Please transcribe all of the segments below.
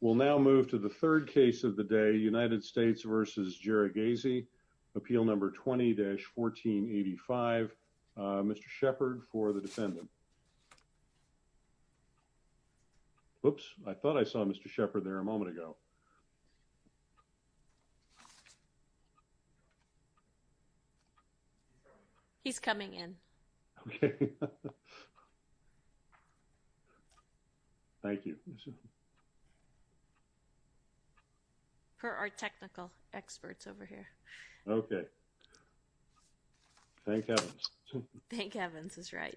We'll now move to the third case of the day, United States v. Jarigese, Appeal No. 20-1485. Mr. Shepard for the defendant. Oops, I thought I saw Mr. Shepard there a moment ago. He's coming in. Okay. Thank you. Per our technical experts over here. Okay. Thank heavens. Thank heavens is right.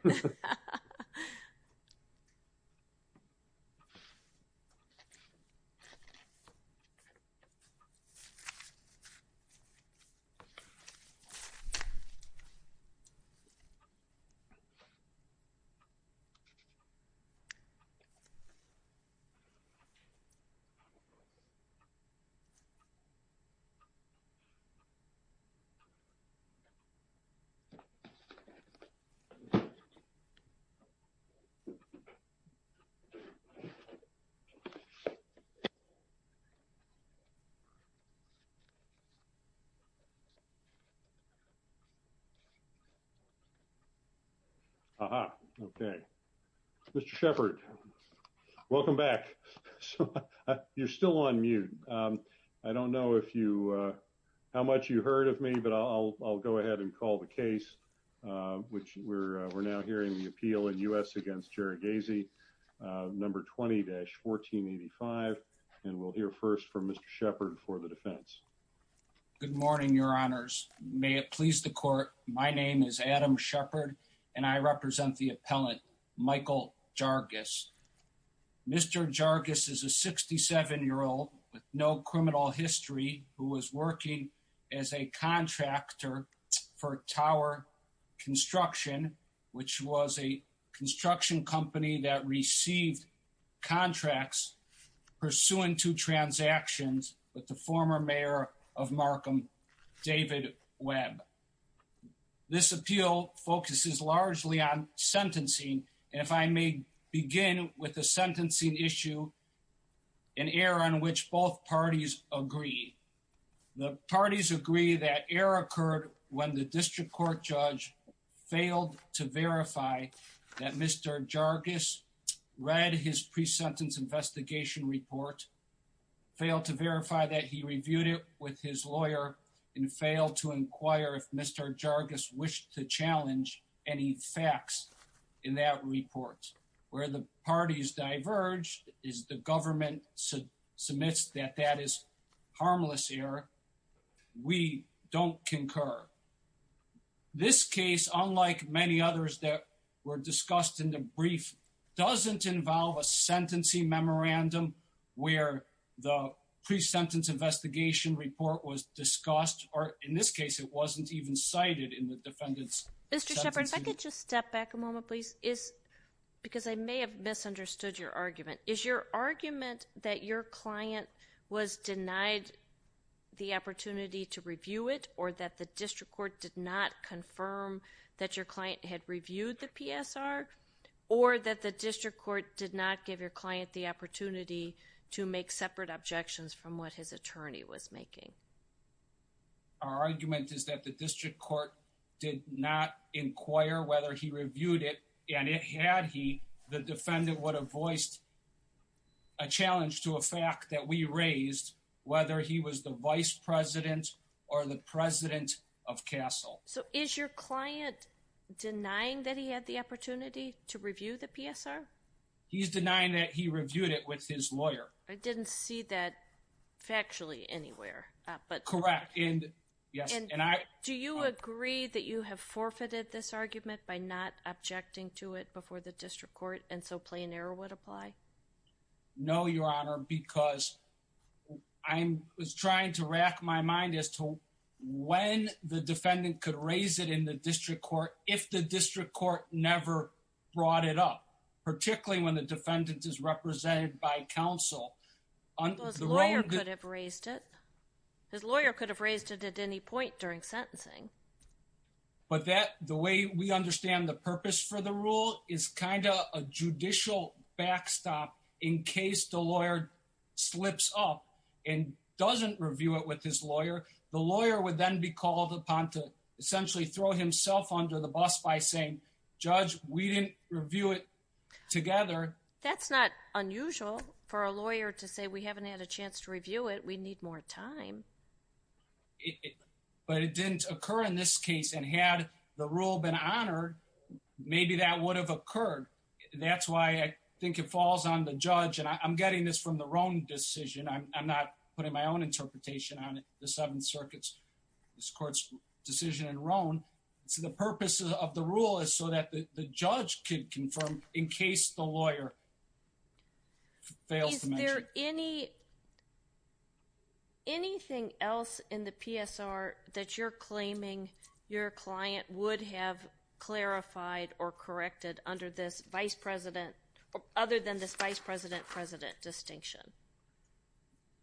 Aha. Okay. Mr. Shepard. Welcome back. You're still on mute. I don't know if you, how much you heard of me, but I'll, I'll go ahead and call the case, which we're, we're now hearing the appeal in U.S. against Jarigese, No. 20-1485. And we'll hear first from Mr. Shepard for the defense. Good morning, your honors. May it please the court. My name is Adam Shepard and I represent the appellant, Michael Jargis. Mr. Jargis is a 67 year old with no criminal history who was working as a contractor for tower construction, which was a construction company that received contracts pursuant to transactions with the former mayor of Markham, David Webb. This appeal focuses largely on sentencing, and if I may begin with the sentencing issue, an error on which both parties agree. The parties agree that error occurred when the district court judge failed to verify that Mr. Jargis read his pre-sentence investigation report, failed to verify that he reviewed it with his lawyer, and failed to inquire if Mr. Jargis wished to challenge any facts in that report. Where the parties diverge is the government submits that that is harmless error. We don't concur. This case, unlike many others that were discussed in the brief, doesn't involve a sentencing memorandum where the pre-sentence investigation report was discussed, or in this case it wasn't even cited in the defendant's sentencing. Mr. Shepard, if I could just step back a moment, please. Because I may have misunderstood your argument. Is your argument that your client was denied the opportunity to review it, or that the district court did not confirm that your client had reviewed the PSR, or that the district court did not give your client the opportunity to make separate objections from what his attorney was making? Our argument is that the district court did not inquire whether he reviewed it, and if he had, the defendant would have voiced a challenge to a fact that we raised, whether he was the vice president or the president of CASEL. So is your client denying that he had the opportunity to review the PSR? He's denying that he reviewed it with his lawyer. I didn't see that factually anywhere. Correct. Do you agree that you have forfeited this argument by not objecting to it before the district court, and so plain error would apply? No, Your Honor, because I was trying to rack my mind as to when the defendant could raise it in the district court if the district court never brought it up, particularly when the His lawyer could have raised it. His lawyer could have raised it at any point during sentencing. But the way we understand the purpose for the rule is kind of a judicial backstop in case the lawyer slips up and doesn't review it with his lawyer. The lawyer would then be called upon to essentially throw himself under the bus by saying, Judge, we didn't review it together. That's not unusual for a lawyer to say we haven't had a chance to review it. We need more time. But it didn't occur in this case, and had the rule been honored, maybe that would have occurred. That's why I think it falls on the judge. And I'm getting this from the Roan decision. I'm not putting my own interpretation on it. The Seventh Circuit's, this court's decision in Roan. The purpose of the rule is so that the judge could confirm in case the lawyer fails. Is there any anything else in the PSR that you're claiming your client would have clarified or corrected under this vice president other than this vice president president distinction?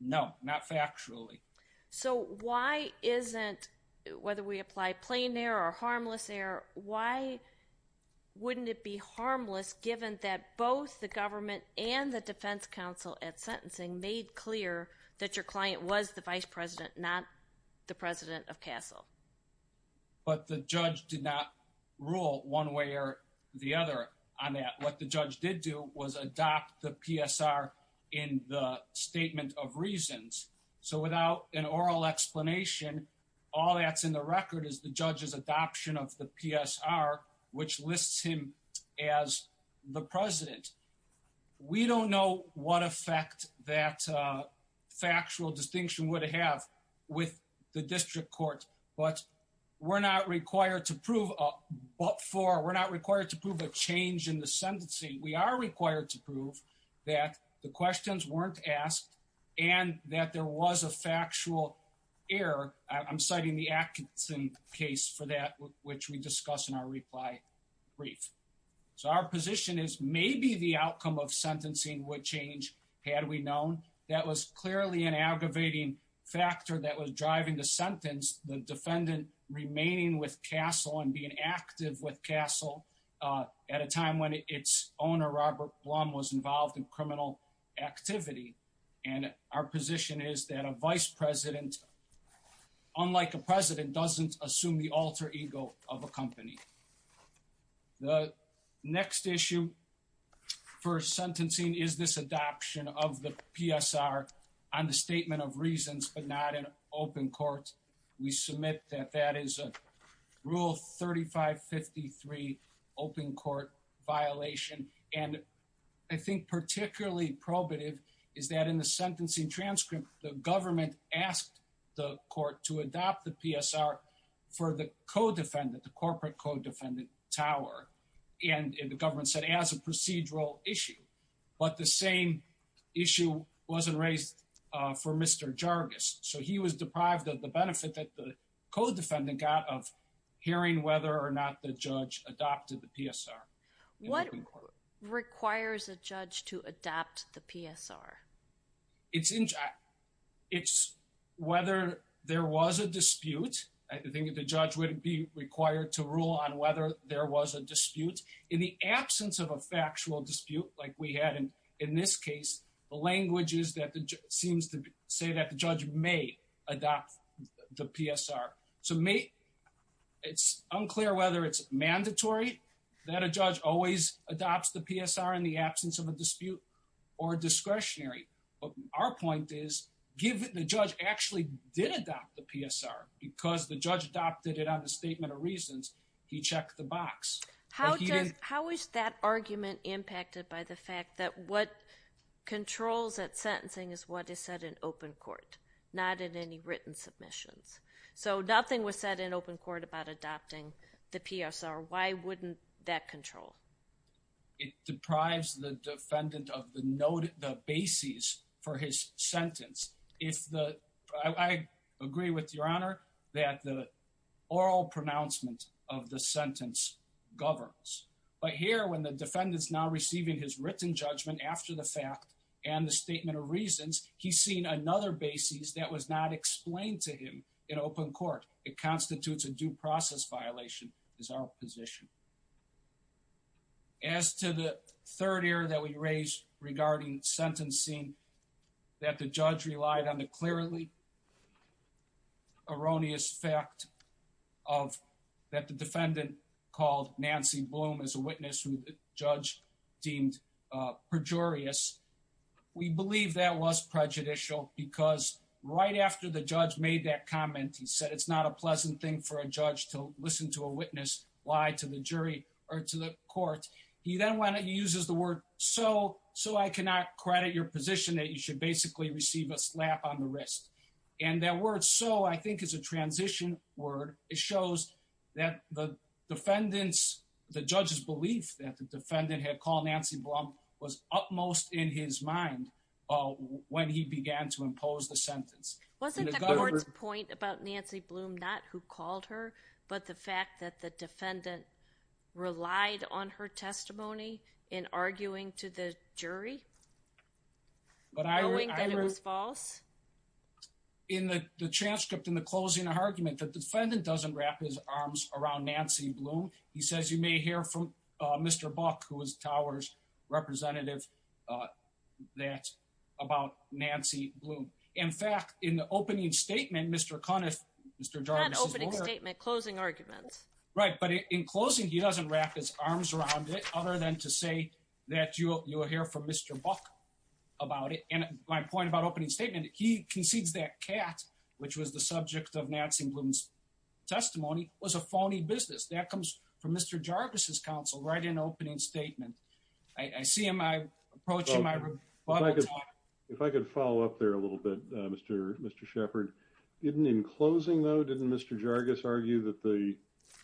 No, not factually. So why isn't, whether we apply plain air or harmless air, why wouldn't it be harmless given that both the government and the Defense Council at sentencing made clear that your client was the vice president, not the president of Castle? But the judge did not rule one way or the other on that. What the judge did do was adopt the PSR in the statement of reasons. So without an oral explanation, all that's in the record is the judge's adoption of the PSR, which lists him as the president. We don't know what effect that factual distinction would have with the district court, but we're not required to prove, but for, we're not required to prove a change in the sentencing. We are required to prove that the questions weren't asked and that there was a factual error. I'm citing the Atkinson case for that, which we discuss in our reply brief. So our position is maybe the outcome of sentencing would change. Had we known that was clearly an aggravating factor that was driving the sentence, the owner, Robert Blum was involved in criminal activity. And our position is that a vice president, unlike a president, doesn't assume the alter ego of a company. The next issue for sentencing is this adoption of the PSR on the statement of reasons, but not in open court. We submit that that is a rule 3553 open court violation. And I think particularly probative is that in the sentencing transcript, the government asked the court to adopt the PSR for the co-defendant, the corporate co-defendant Tower. And the government said as a procedural issue, but the same issue wasn't raised for Mr. Jargis. So he was deprived of the benefit that the co-defendant got of hearing whether or not the judge adopted the PSR. What requires a judge to adopt the PSR? It's whether there was a dispute. I think the judge wouldn't be required to rule on whether there was a dispute in the absence of a factual dispute like we had in this case. The language is that it seems to say that the judge may adopt the PSR. So it's unclear whether it's mandatory that a judge always adopts the PSR in the absence of a dispute or discretionary. But our point is given the judge actually did adopt the PSR because the judge adopted it on the statement of reasons, he checked the box. How is that argument impacted by the fact that what controls that sentencing is what is said in open court, not in any written submissions? So nothing was said in open court about adopting the PSR. Why wouldn't that control? It deprives the defendant of the basis for his sentence. It's the, I agree with your honor, that the oral pronouncement of the sentence governs. But here when the defendant is now receiving his written judgment after the fact and the statement of reasons, he's seen another basis that was not explained to him in open court. It constitutes a due process violation is our position. As to the third error that we raised regarding sentencing, that the judge relied on the clearly erroneous fact of that the defendant called Nancy Bloom as a witness who the judge deemed pejorious. We believe that was prejudicial because right after the judge made that comment, he said, it's not a pleasant thing for a judge to listen to a witness lie to the jury or to the court. He then uses the word so, so I cannot credit your position that you should basically receive a slap on the wrist. And that word so I think is a transition word. It shows that the defendants, the judge's belief that the defendant had called Nancy Blum was utmost in his mind when he began to impose the sentence. Wasn't the court's point about Nancy Blum, not who called her, but the fact that the defendant relied on her testimony in arguing to the jury. But I think that it was false. In the transcript in the closing argument, the defendant doesn't wrap his arms around Nancy Blum. He says, you may hear from Mr. Buck, who is Towers representative. That's about Nancy Blum. In fact, in the opening statement, Mr. Conniff, Mr. Jarvis's closing argument, right? But in closing, he doesn't wrap his arms around it, other than to say that you'll hear from Mr. Buck about it. And my point about opening statement, he concedes that cat, which was the subject of Nancy Blum's testimony was a phony business that comes from Mr. Jarvis's counsel right in opening statement. I see him. I approach him. Well, I guess if I could follow up there a little bit, Mr. Mr. Shepard, didn't in closing, though, didn't Mr. Jarvis argue that the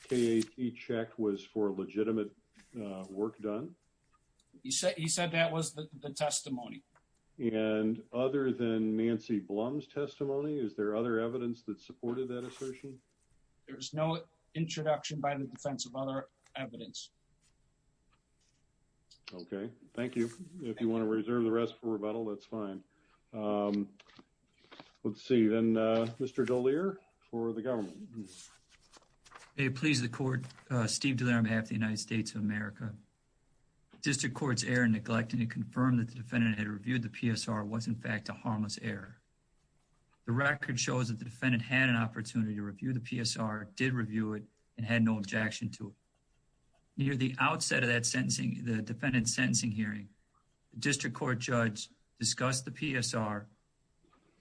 cat check was for legitimate work done? He said he said that was the testimony. And other than Nancy Blum's testimony, is there other evidence that supported that assertion? There's no introduction by the defense of other evidence. Okay. Thank you. If you want to reserve the rest for rebuttal, that's fine. Let's see. Then, Mr. Dallier for the government, please, the court. Steve Dallier, on behalf of the United States of America, District Courts error, neglecting to confirm that the defendant had reviewed the PSR was, in fact, a harmless error. The record shows that the defendant had an opportunity to review the PSR, did review it and had no objection to it. Near the outset of that sentencing, the defendant's sentencing hearing, the district court judge discussed the PSR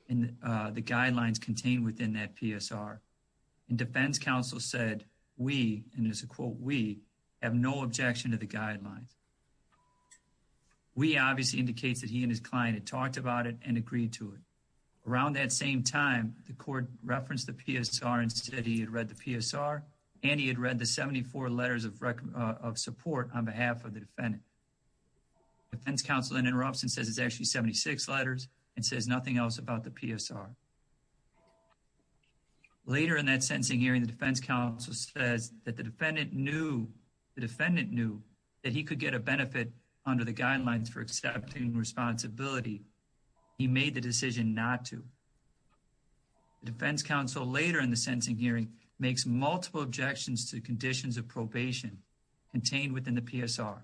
and the guidelines contained within that PSR and defense counsel said we and as a quote, we have no objection to the guidelines. We obviously indicates that he and his client had talked about it and agreed to it. Around that same time, the court referenced the PSR and said he had read the PSR and he of support on behalf of the defendant. The defense counsel then interrupts and says it's actually 76 letters and says nothing else about the PSR. Later in that sentencing hearing, the defense counsel says that the defendant knew that he could get a benefit under the guidelines for accepting responsibility. He made the decision not to. The defense counsel later in the sentencing hearing makes multiple objections to conditions of probation contained within the PSR.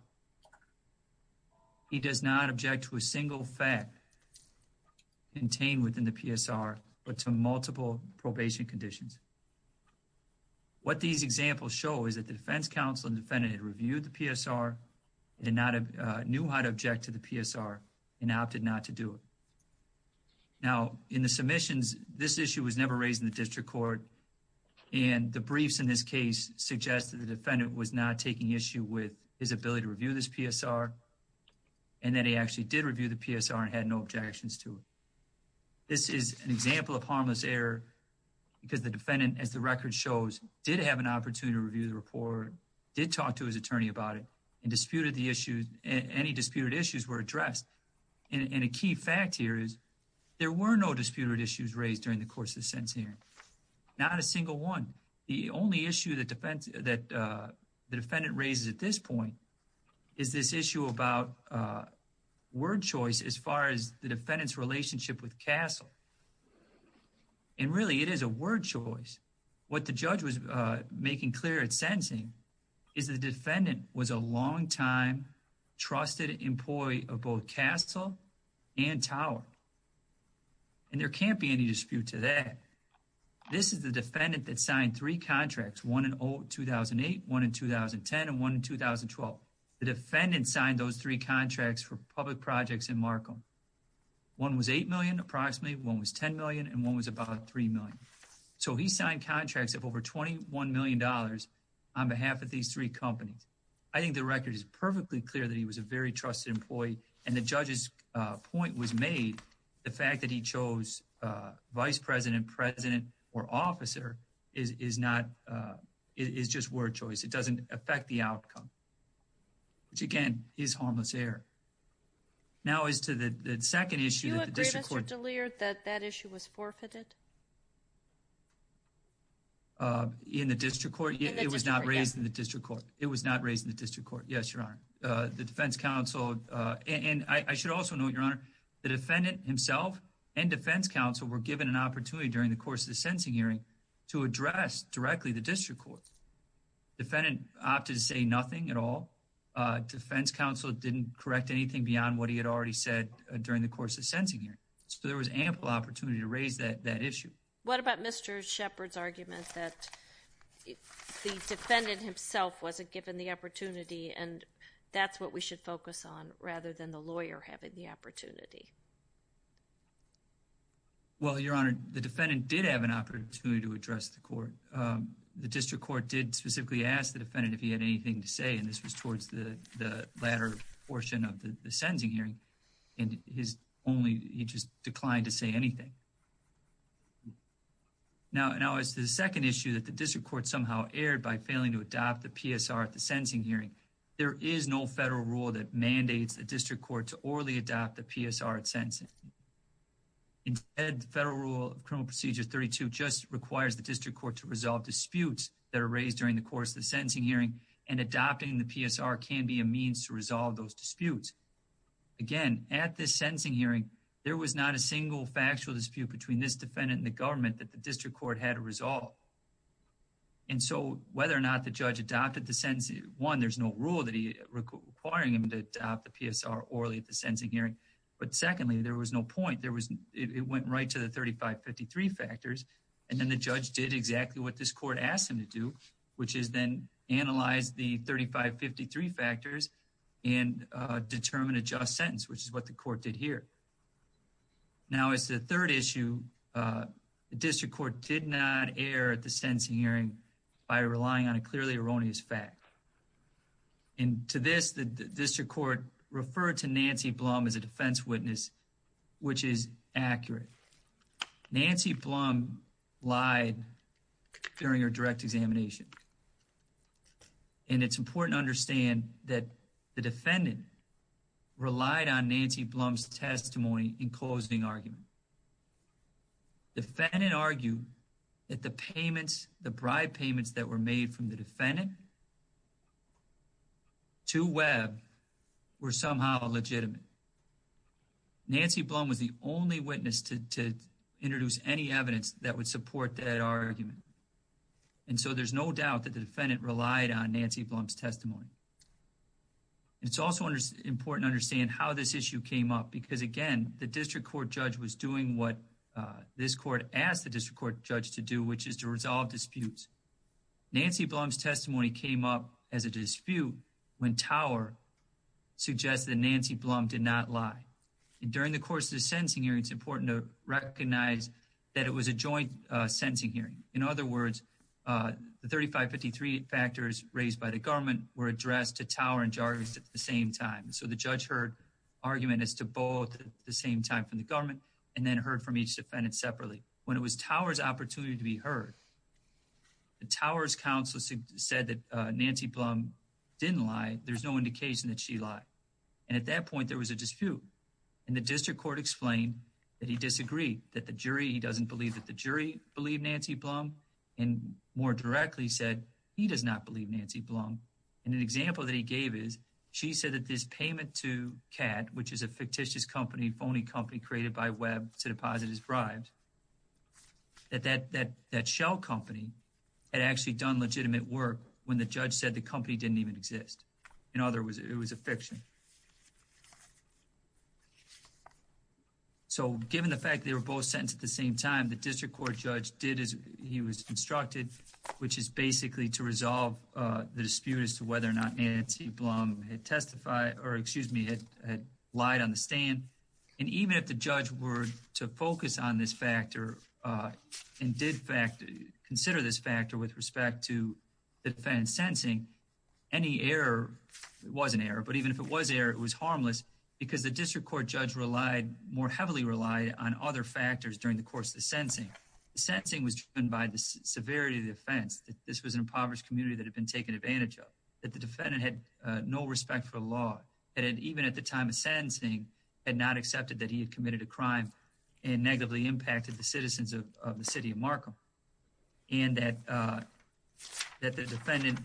He does not object to a single fact contained within the PSR, but to multiple probation conditions. What these examples show is that the defense counsel and defendant had reviewed the PSR. It did not have knew how to object to the PSR and opted not to do it. Now, in the submissions, this issue was never raised in the district court and the briefs suggest that the defendant was not taking issue with his ability to review this PSR and that he actually did review the PSR and had no objections to it. This is an example of harmless error because the defendant, as the record shows, did have an opportunity to review the report, did talk to his attorney about it, and disputed the issue. Any disputed issues were addressed. And a key fact here is there were no disputed issues raised during the course of the sentencing hearing. Not a single one. The only issue that the defendant raises at this point is this issue about word choice as far as the defendant's relationship with Castle. And really, it is a word choice. What the judge was making clear at sentencing is the defendant was a long time trusted employee of both Castle and Tower. And there can't be any dispute to that. This is the defendant that signed three contracts, one in 2008, one in 2010, and one in 2012. The defendant signed those three contracts for public projects in Markham. One was $8 million approximately, one was $10 million, and one was about $3 million. So he signed contracts of over $21 million on behalf of these three companies. I think the record is perfectly clear that he was a very trusted employee and the judge's point was made. The fact that he chose vice president, president, or officer is just word choice. It doesn't affect the outcome. Which again, is harmless error. Now as to the second issue that the district court— Do you agree, Mr. DeLear, that that issue was forfeited? In the district court? It was not raised in the district court. It was not raised in the district court. Yes, Your Honor. The defense counsel—and I should also note, Your Honor, the defendant himself and defense counsel were given an opportunity during the course of the sentencing hearing to address directly the district court. Defendant opted to say nothing at all. Defense counsel didn't correct anything beyond what he had already said during the course of the sentencing hearing. So there was ample opportunity to raise that issue. What about Mr. Shepard's argument that the defendant himself wasn't given the opportunity and that's what we should focus on rather than the lawyer having the opportunity? Well, Your Honor, the defendant did have an opportunity to address the court. The district court did specifically ask the defendant if he had anything to say and this was towards the latter portion of the sentencing hearing and he just declined to say anything. Now as to the second issue that the district court somehow erred by failing to adopt the there is no federal rule that mandates the district court to orally adopt the PSR at sentencing. Instead, the federal rule of criminal procedure 32 just requires the district court to resolve disputes that are raised during the course of the sentencing hearing and adopting the PSR can be a means to resolve those disputes. Again, at this sentencing hearing, there was not a single factual dispute between this defendant and the government that the district court had to resolve. And so whether or not the judge adopted the sentencing, one, there's no rule requiring him to adopt the PSR orally at the sentencing hearing. But secondly, there was no point. It went right to the 3553 factors and then the judge did exactly what this court asked him to do, which is then analyze the 3553 factors and determine a just sentence, which is what the court did here. Now, as the third issue, the district court did not err at the sentencing hearing by relying on a clearly erroneous fact. And to this, the district court referred to Nancy Blum as a defense witness, which is accurate. Nancy Blum lied during her direct examination. And it's important to understand that the defendant relied on Nancy Blum's testimony in closing argument. The defendant argued that the payments, the bribe payments that were made from the defendant to Webb were somehow legitimate. Nancy Blum was the only witness to introduce any evidence that would support that argument. And so there's no doubt that the defendant relied on Nancy Blum's testimony. It's also important to understand how this issue came up, because again, the district court judge was doing what this court asked the district court judge to do, which is to resolve disputes. Nancy Blum's testimony came up as a dispute when Tower suggested that Nancy Blum did not lie. During the course of the sentencing hearing, it's important to recognize that it was a joint sentencing hearing. In other words, the 3553 factors raised by the government were addressed to Tower and Jarvis at the same time. So the judge heard argument as to both at the same time from the government and then heard from each defendant separately. When it was Tower's opportunity to be heard, the Tower's counsel said that Nancy Blum didn't lie. There's no indication that she lied. And at that point, there was a dispute. And the district court explained that he disagreed, that the jury, he doesn't believe that jury believed Nancy Blum, and more directly said he does not believe Nancy Blum. And an example that he gave is she said that this payment to CAT, which is a fictitious company, phony company created by Webb to deposit his bribes, that that shell company had actually done legitimate work when the judge said the company didn't even exist. In other words, it was a fiction. So, given the fact they were both sentenced at the same time, the district court judge did as he was instructed, which is basically to resolve the dispute as to whether or not Nancy Blum had testified or, excuse me, had lied on the stand. And even if the judge were to focus on this factor and did consider this factor with respect to the defendant's sentencing, any error, it wasn't error, but even if it was error, it was harmless because the district court judge relied, more heavily relied on other factors during the course of the sentencing. The sentencing was driven by the severity of the offense, that this was an impoverished community that had been taken advantage of, that the defendant had no respect for the law, that even at the time of sentencing, had not accepted that he had committed a crime and negatively impacted the citizens of the city of Markham. And that the defendant,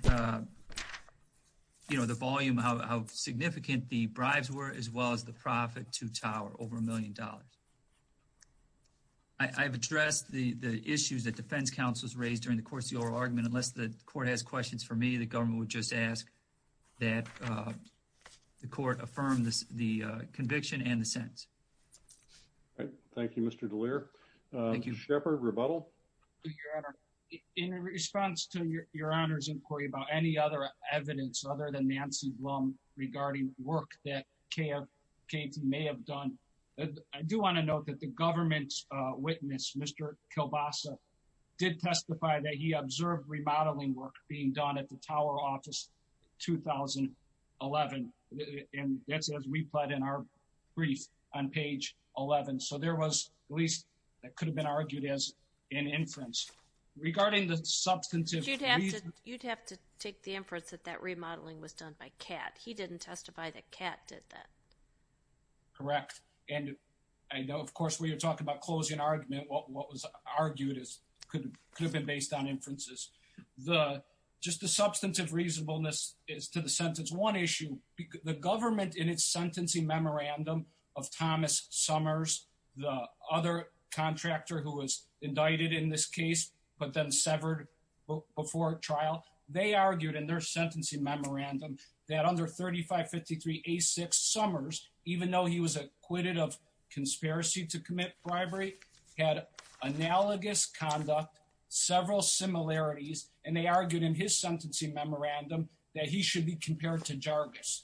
you know, the volume, how significant the bribes were, as well as the profit to Tower, over a million dollars. I've addressed the issues that defense counsels raised during the course of the oral argument. Unless the court has questions for me, the government would just ask that the court affirm the conviction and the sentence. All right. Thank you, Mr. DeLear. Thank you. Shepard, rebuttal. In response to your Honor's inquiry about any other evidence other than Nancy Blum regarding work that K.F. may have done, I do want to note that the government's witness, Mr. Kielbasa, did testify that he observed remodeling work being done at the Tower office in 2011. And that's as we plied in our brief on page 11. So, there was at least, that could have been argued as an inference. Regarding the substantive... You'd have to take the inference that that remodeling was done by Kat. He didn't testify that Kat did that. Correct. And I know, of course, when you're talking about closing argument, what was argued could have been based on inferences. The, just the substantive reasonableness is to the sentence. One issue, the government in its sentencing memorandum of Thomas Summers, the other contractor who was indicted in this case, but then severed before trial, they argued in their sentencing memorandum that under 3553A6 Summers, even though he was acquitted of conspiracy to commit bribery, had analogous conduct, several similarities, and they argued in his sentencing memorandum that he should be compared to Jargis.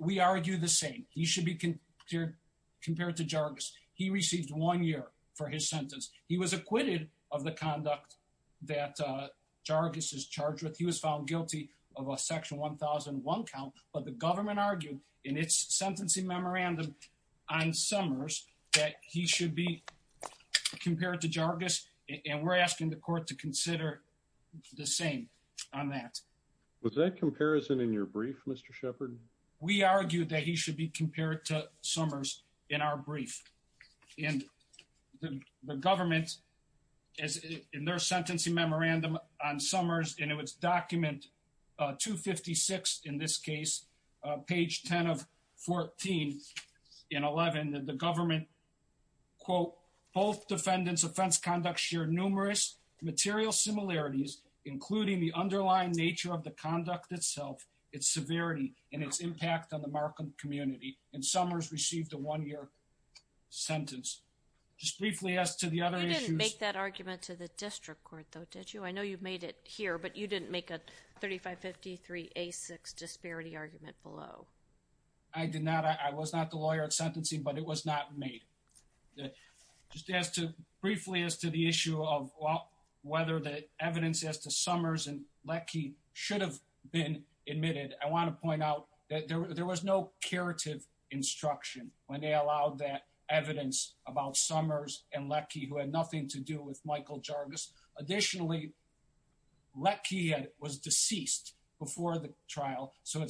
We argue the same. He should be compared to Jargis. He received one year for his sentence. He was acquitted of the conduct that Jargis is charged with. He was found guilty of a section 1001 count, but the government argued in its sentencing memorandum on Summers that he should be compared to Jargis, and we're asking the court to consider the same on that. Was that comparison in your brief, Mr. Shepard? We argued that he should be compared to Summers in our brief. And the government, in their sentencing memorandum on Summers, and it was document 256 in this 14 and 11, that the government, quote, both defendants' offense conduct shared numerous material similarities, including the underlying nature of the conduct itself, its severity, and its impact on the Markham community. And Summers received a one-year sentence. Just briefly as to the other issues. You didn't make that argument to the district court, though, did you? I know you made it here, but you didn't make a 3553A6 disparity argument below. I did not. I was not the lawyer at sentencing, but it was not made. Just as to briefly as to the issue of whether the evidence as to Summers and Leckie should have been admitted. I want to point out that there was no curative instruction when they allowed that evidence about Summers and Leckie, who had nothing to do with Michael Jargis. Additionally, Leckie was deceased before the trial, so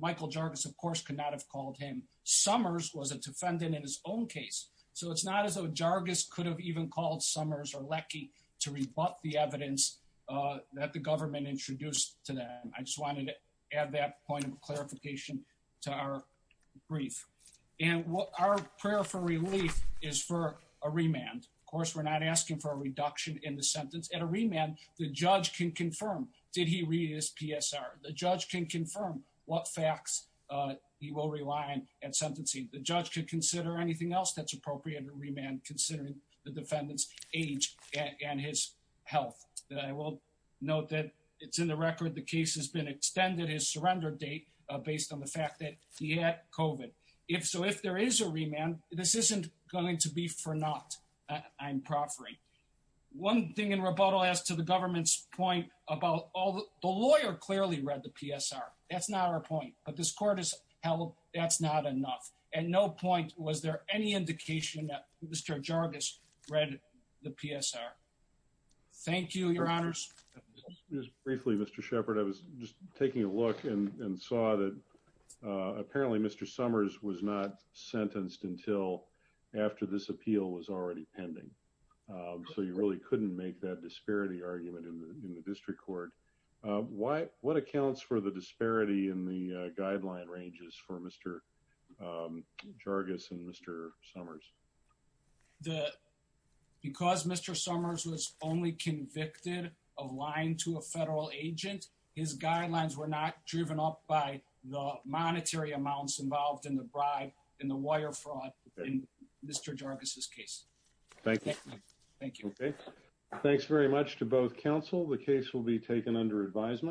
Michael Jargis, of course, could not have called him. Summers was a defendant in his own case, so it's not as though Jargis could have even called Summers or Leckie to rebut the evidence that the government introduced to them. I just wanted to add that point of clarification to our brief. And our prayer for relief is for a remand. Of course, we're not asking for a reduction in the sentence. At a remand, the judge can confirm, did he read his PSR? The judge can confirm what facts he will rely on at sentencing. The judge could consider anything else that's appropriate at remand considering the defendant's age and his health. I will note that it's in the record the case has been extended his surrender date based on the fact that he had COVID. If so, if there is a remand, this isn't going to be for naught, I'm proffering. One thing in rebuttal as to the government's point about the lawyer clearly read the PSR. That's not our point, but this court has held that's not enough. At no point was there any indication that Mr. Jargis read the PSR. Thank you, your honors. Just briefly, Mr. Shepard, I was just taking a look and saw that apparently Mr. Summers was not sentenced until after this appeal was already pending. So you really couldn't make that disparity argument in the district court. What accounts for the disparity in the guideline ranges for Mr. Jargis and Mr. Summers? The, because Mr. Summers was only convicted of lying to a federal agent, his guidelines were not driven up by the monetary amounts involved in the bribe in the wire fraud in Mr. Jargis's case. Thank you. Thank you. Thanks very much to both counsel. The case will be taken under advisement.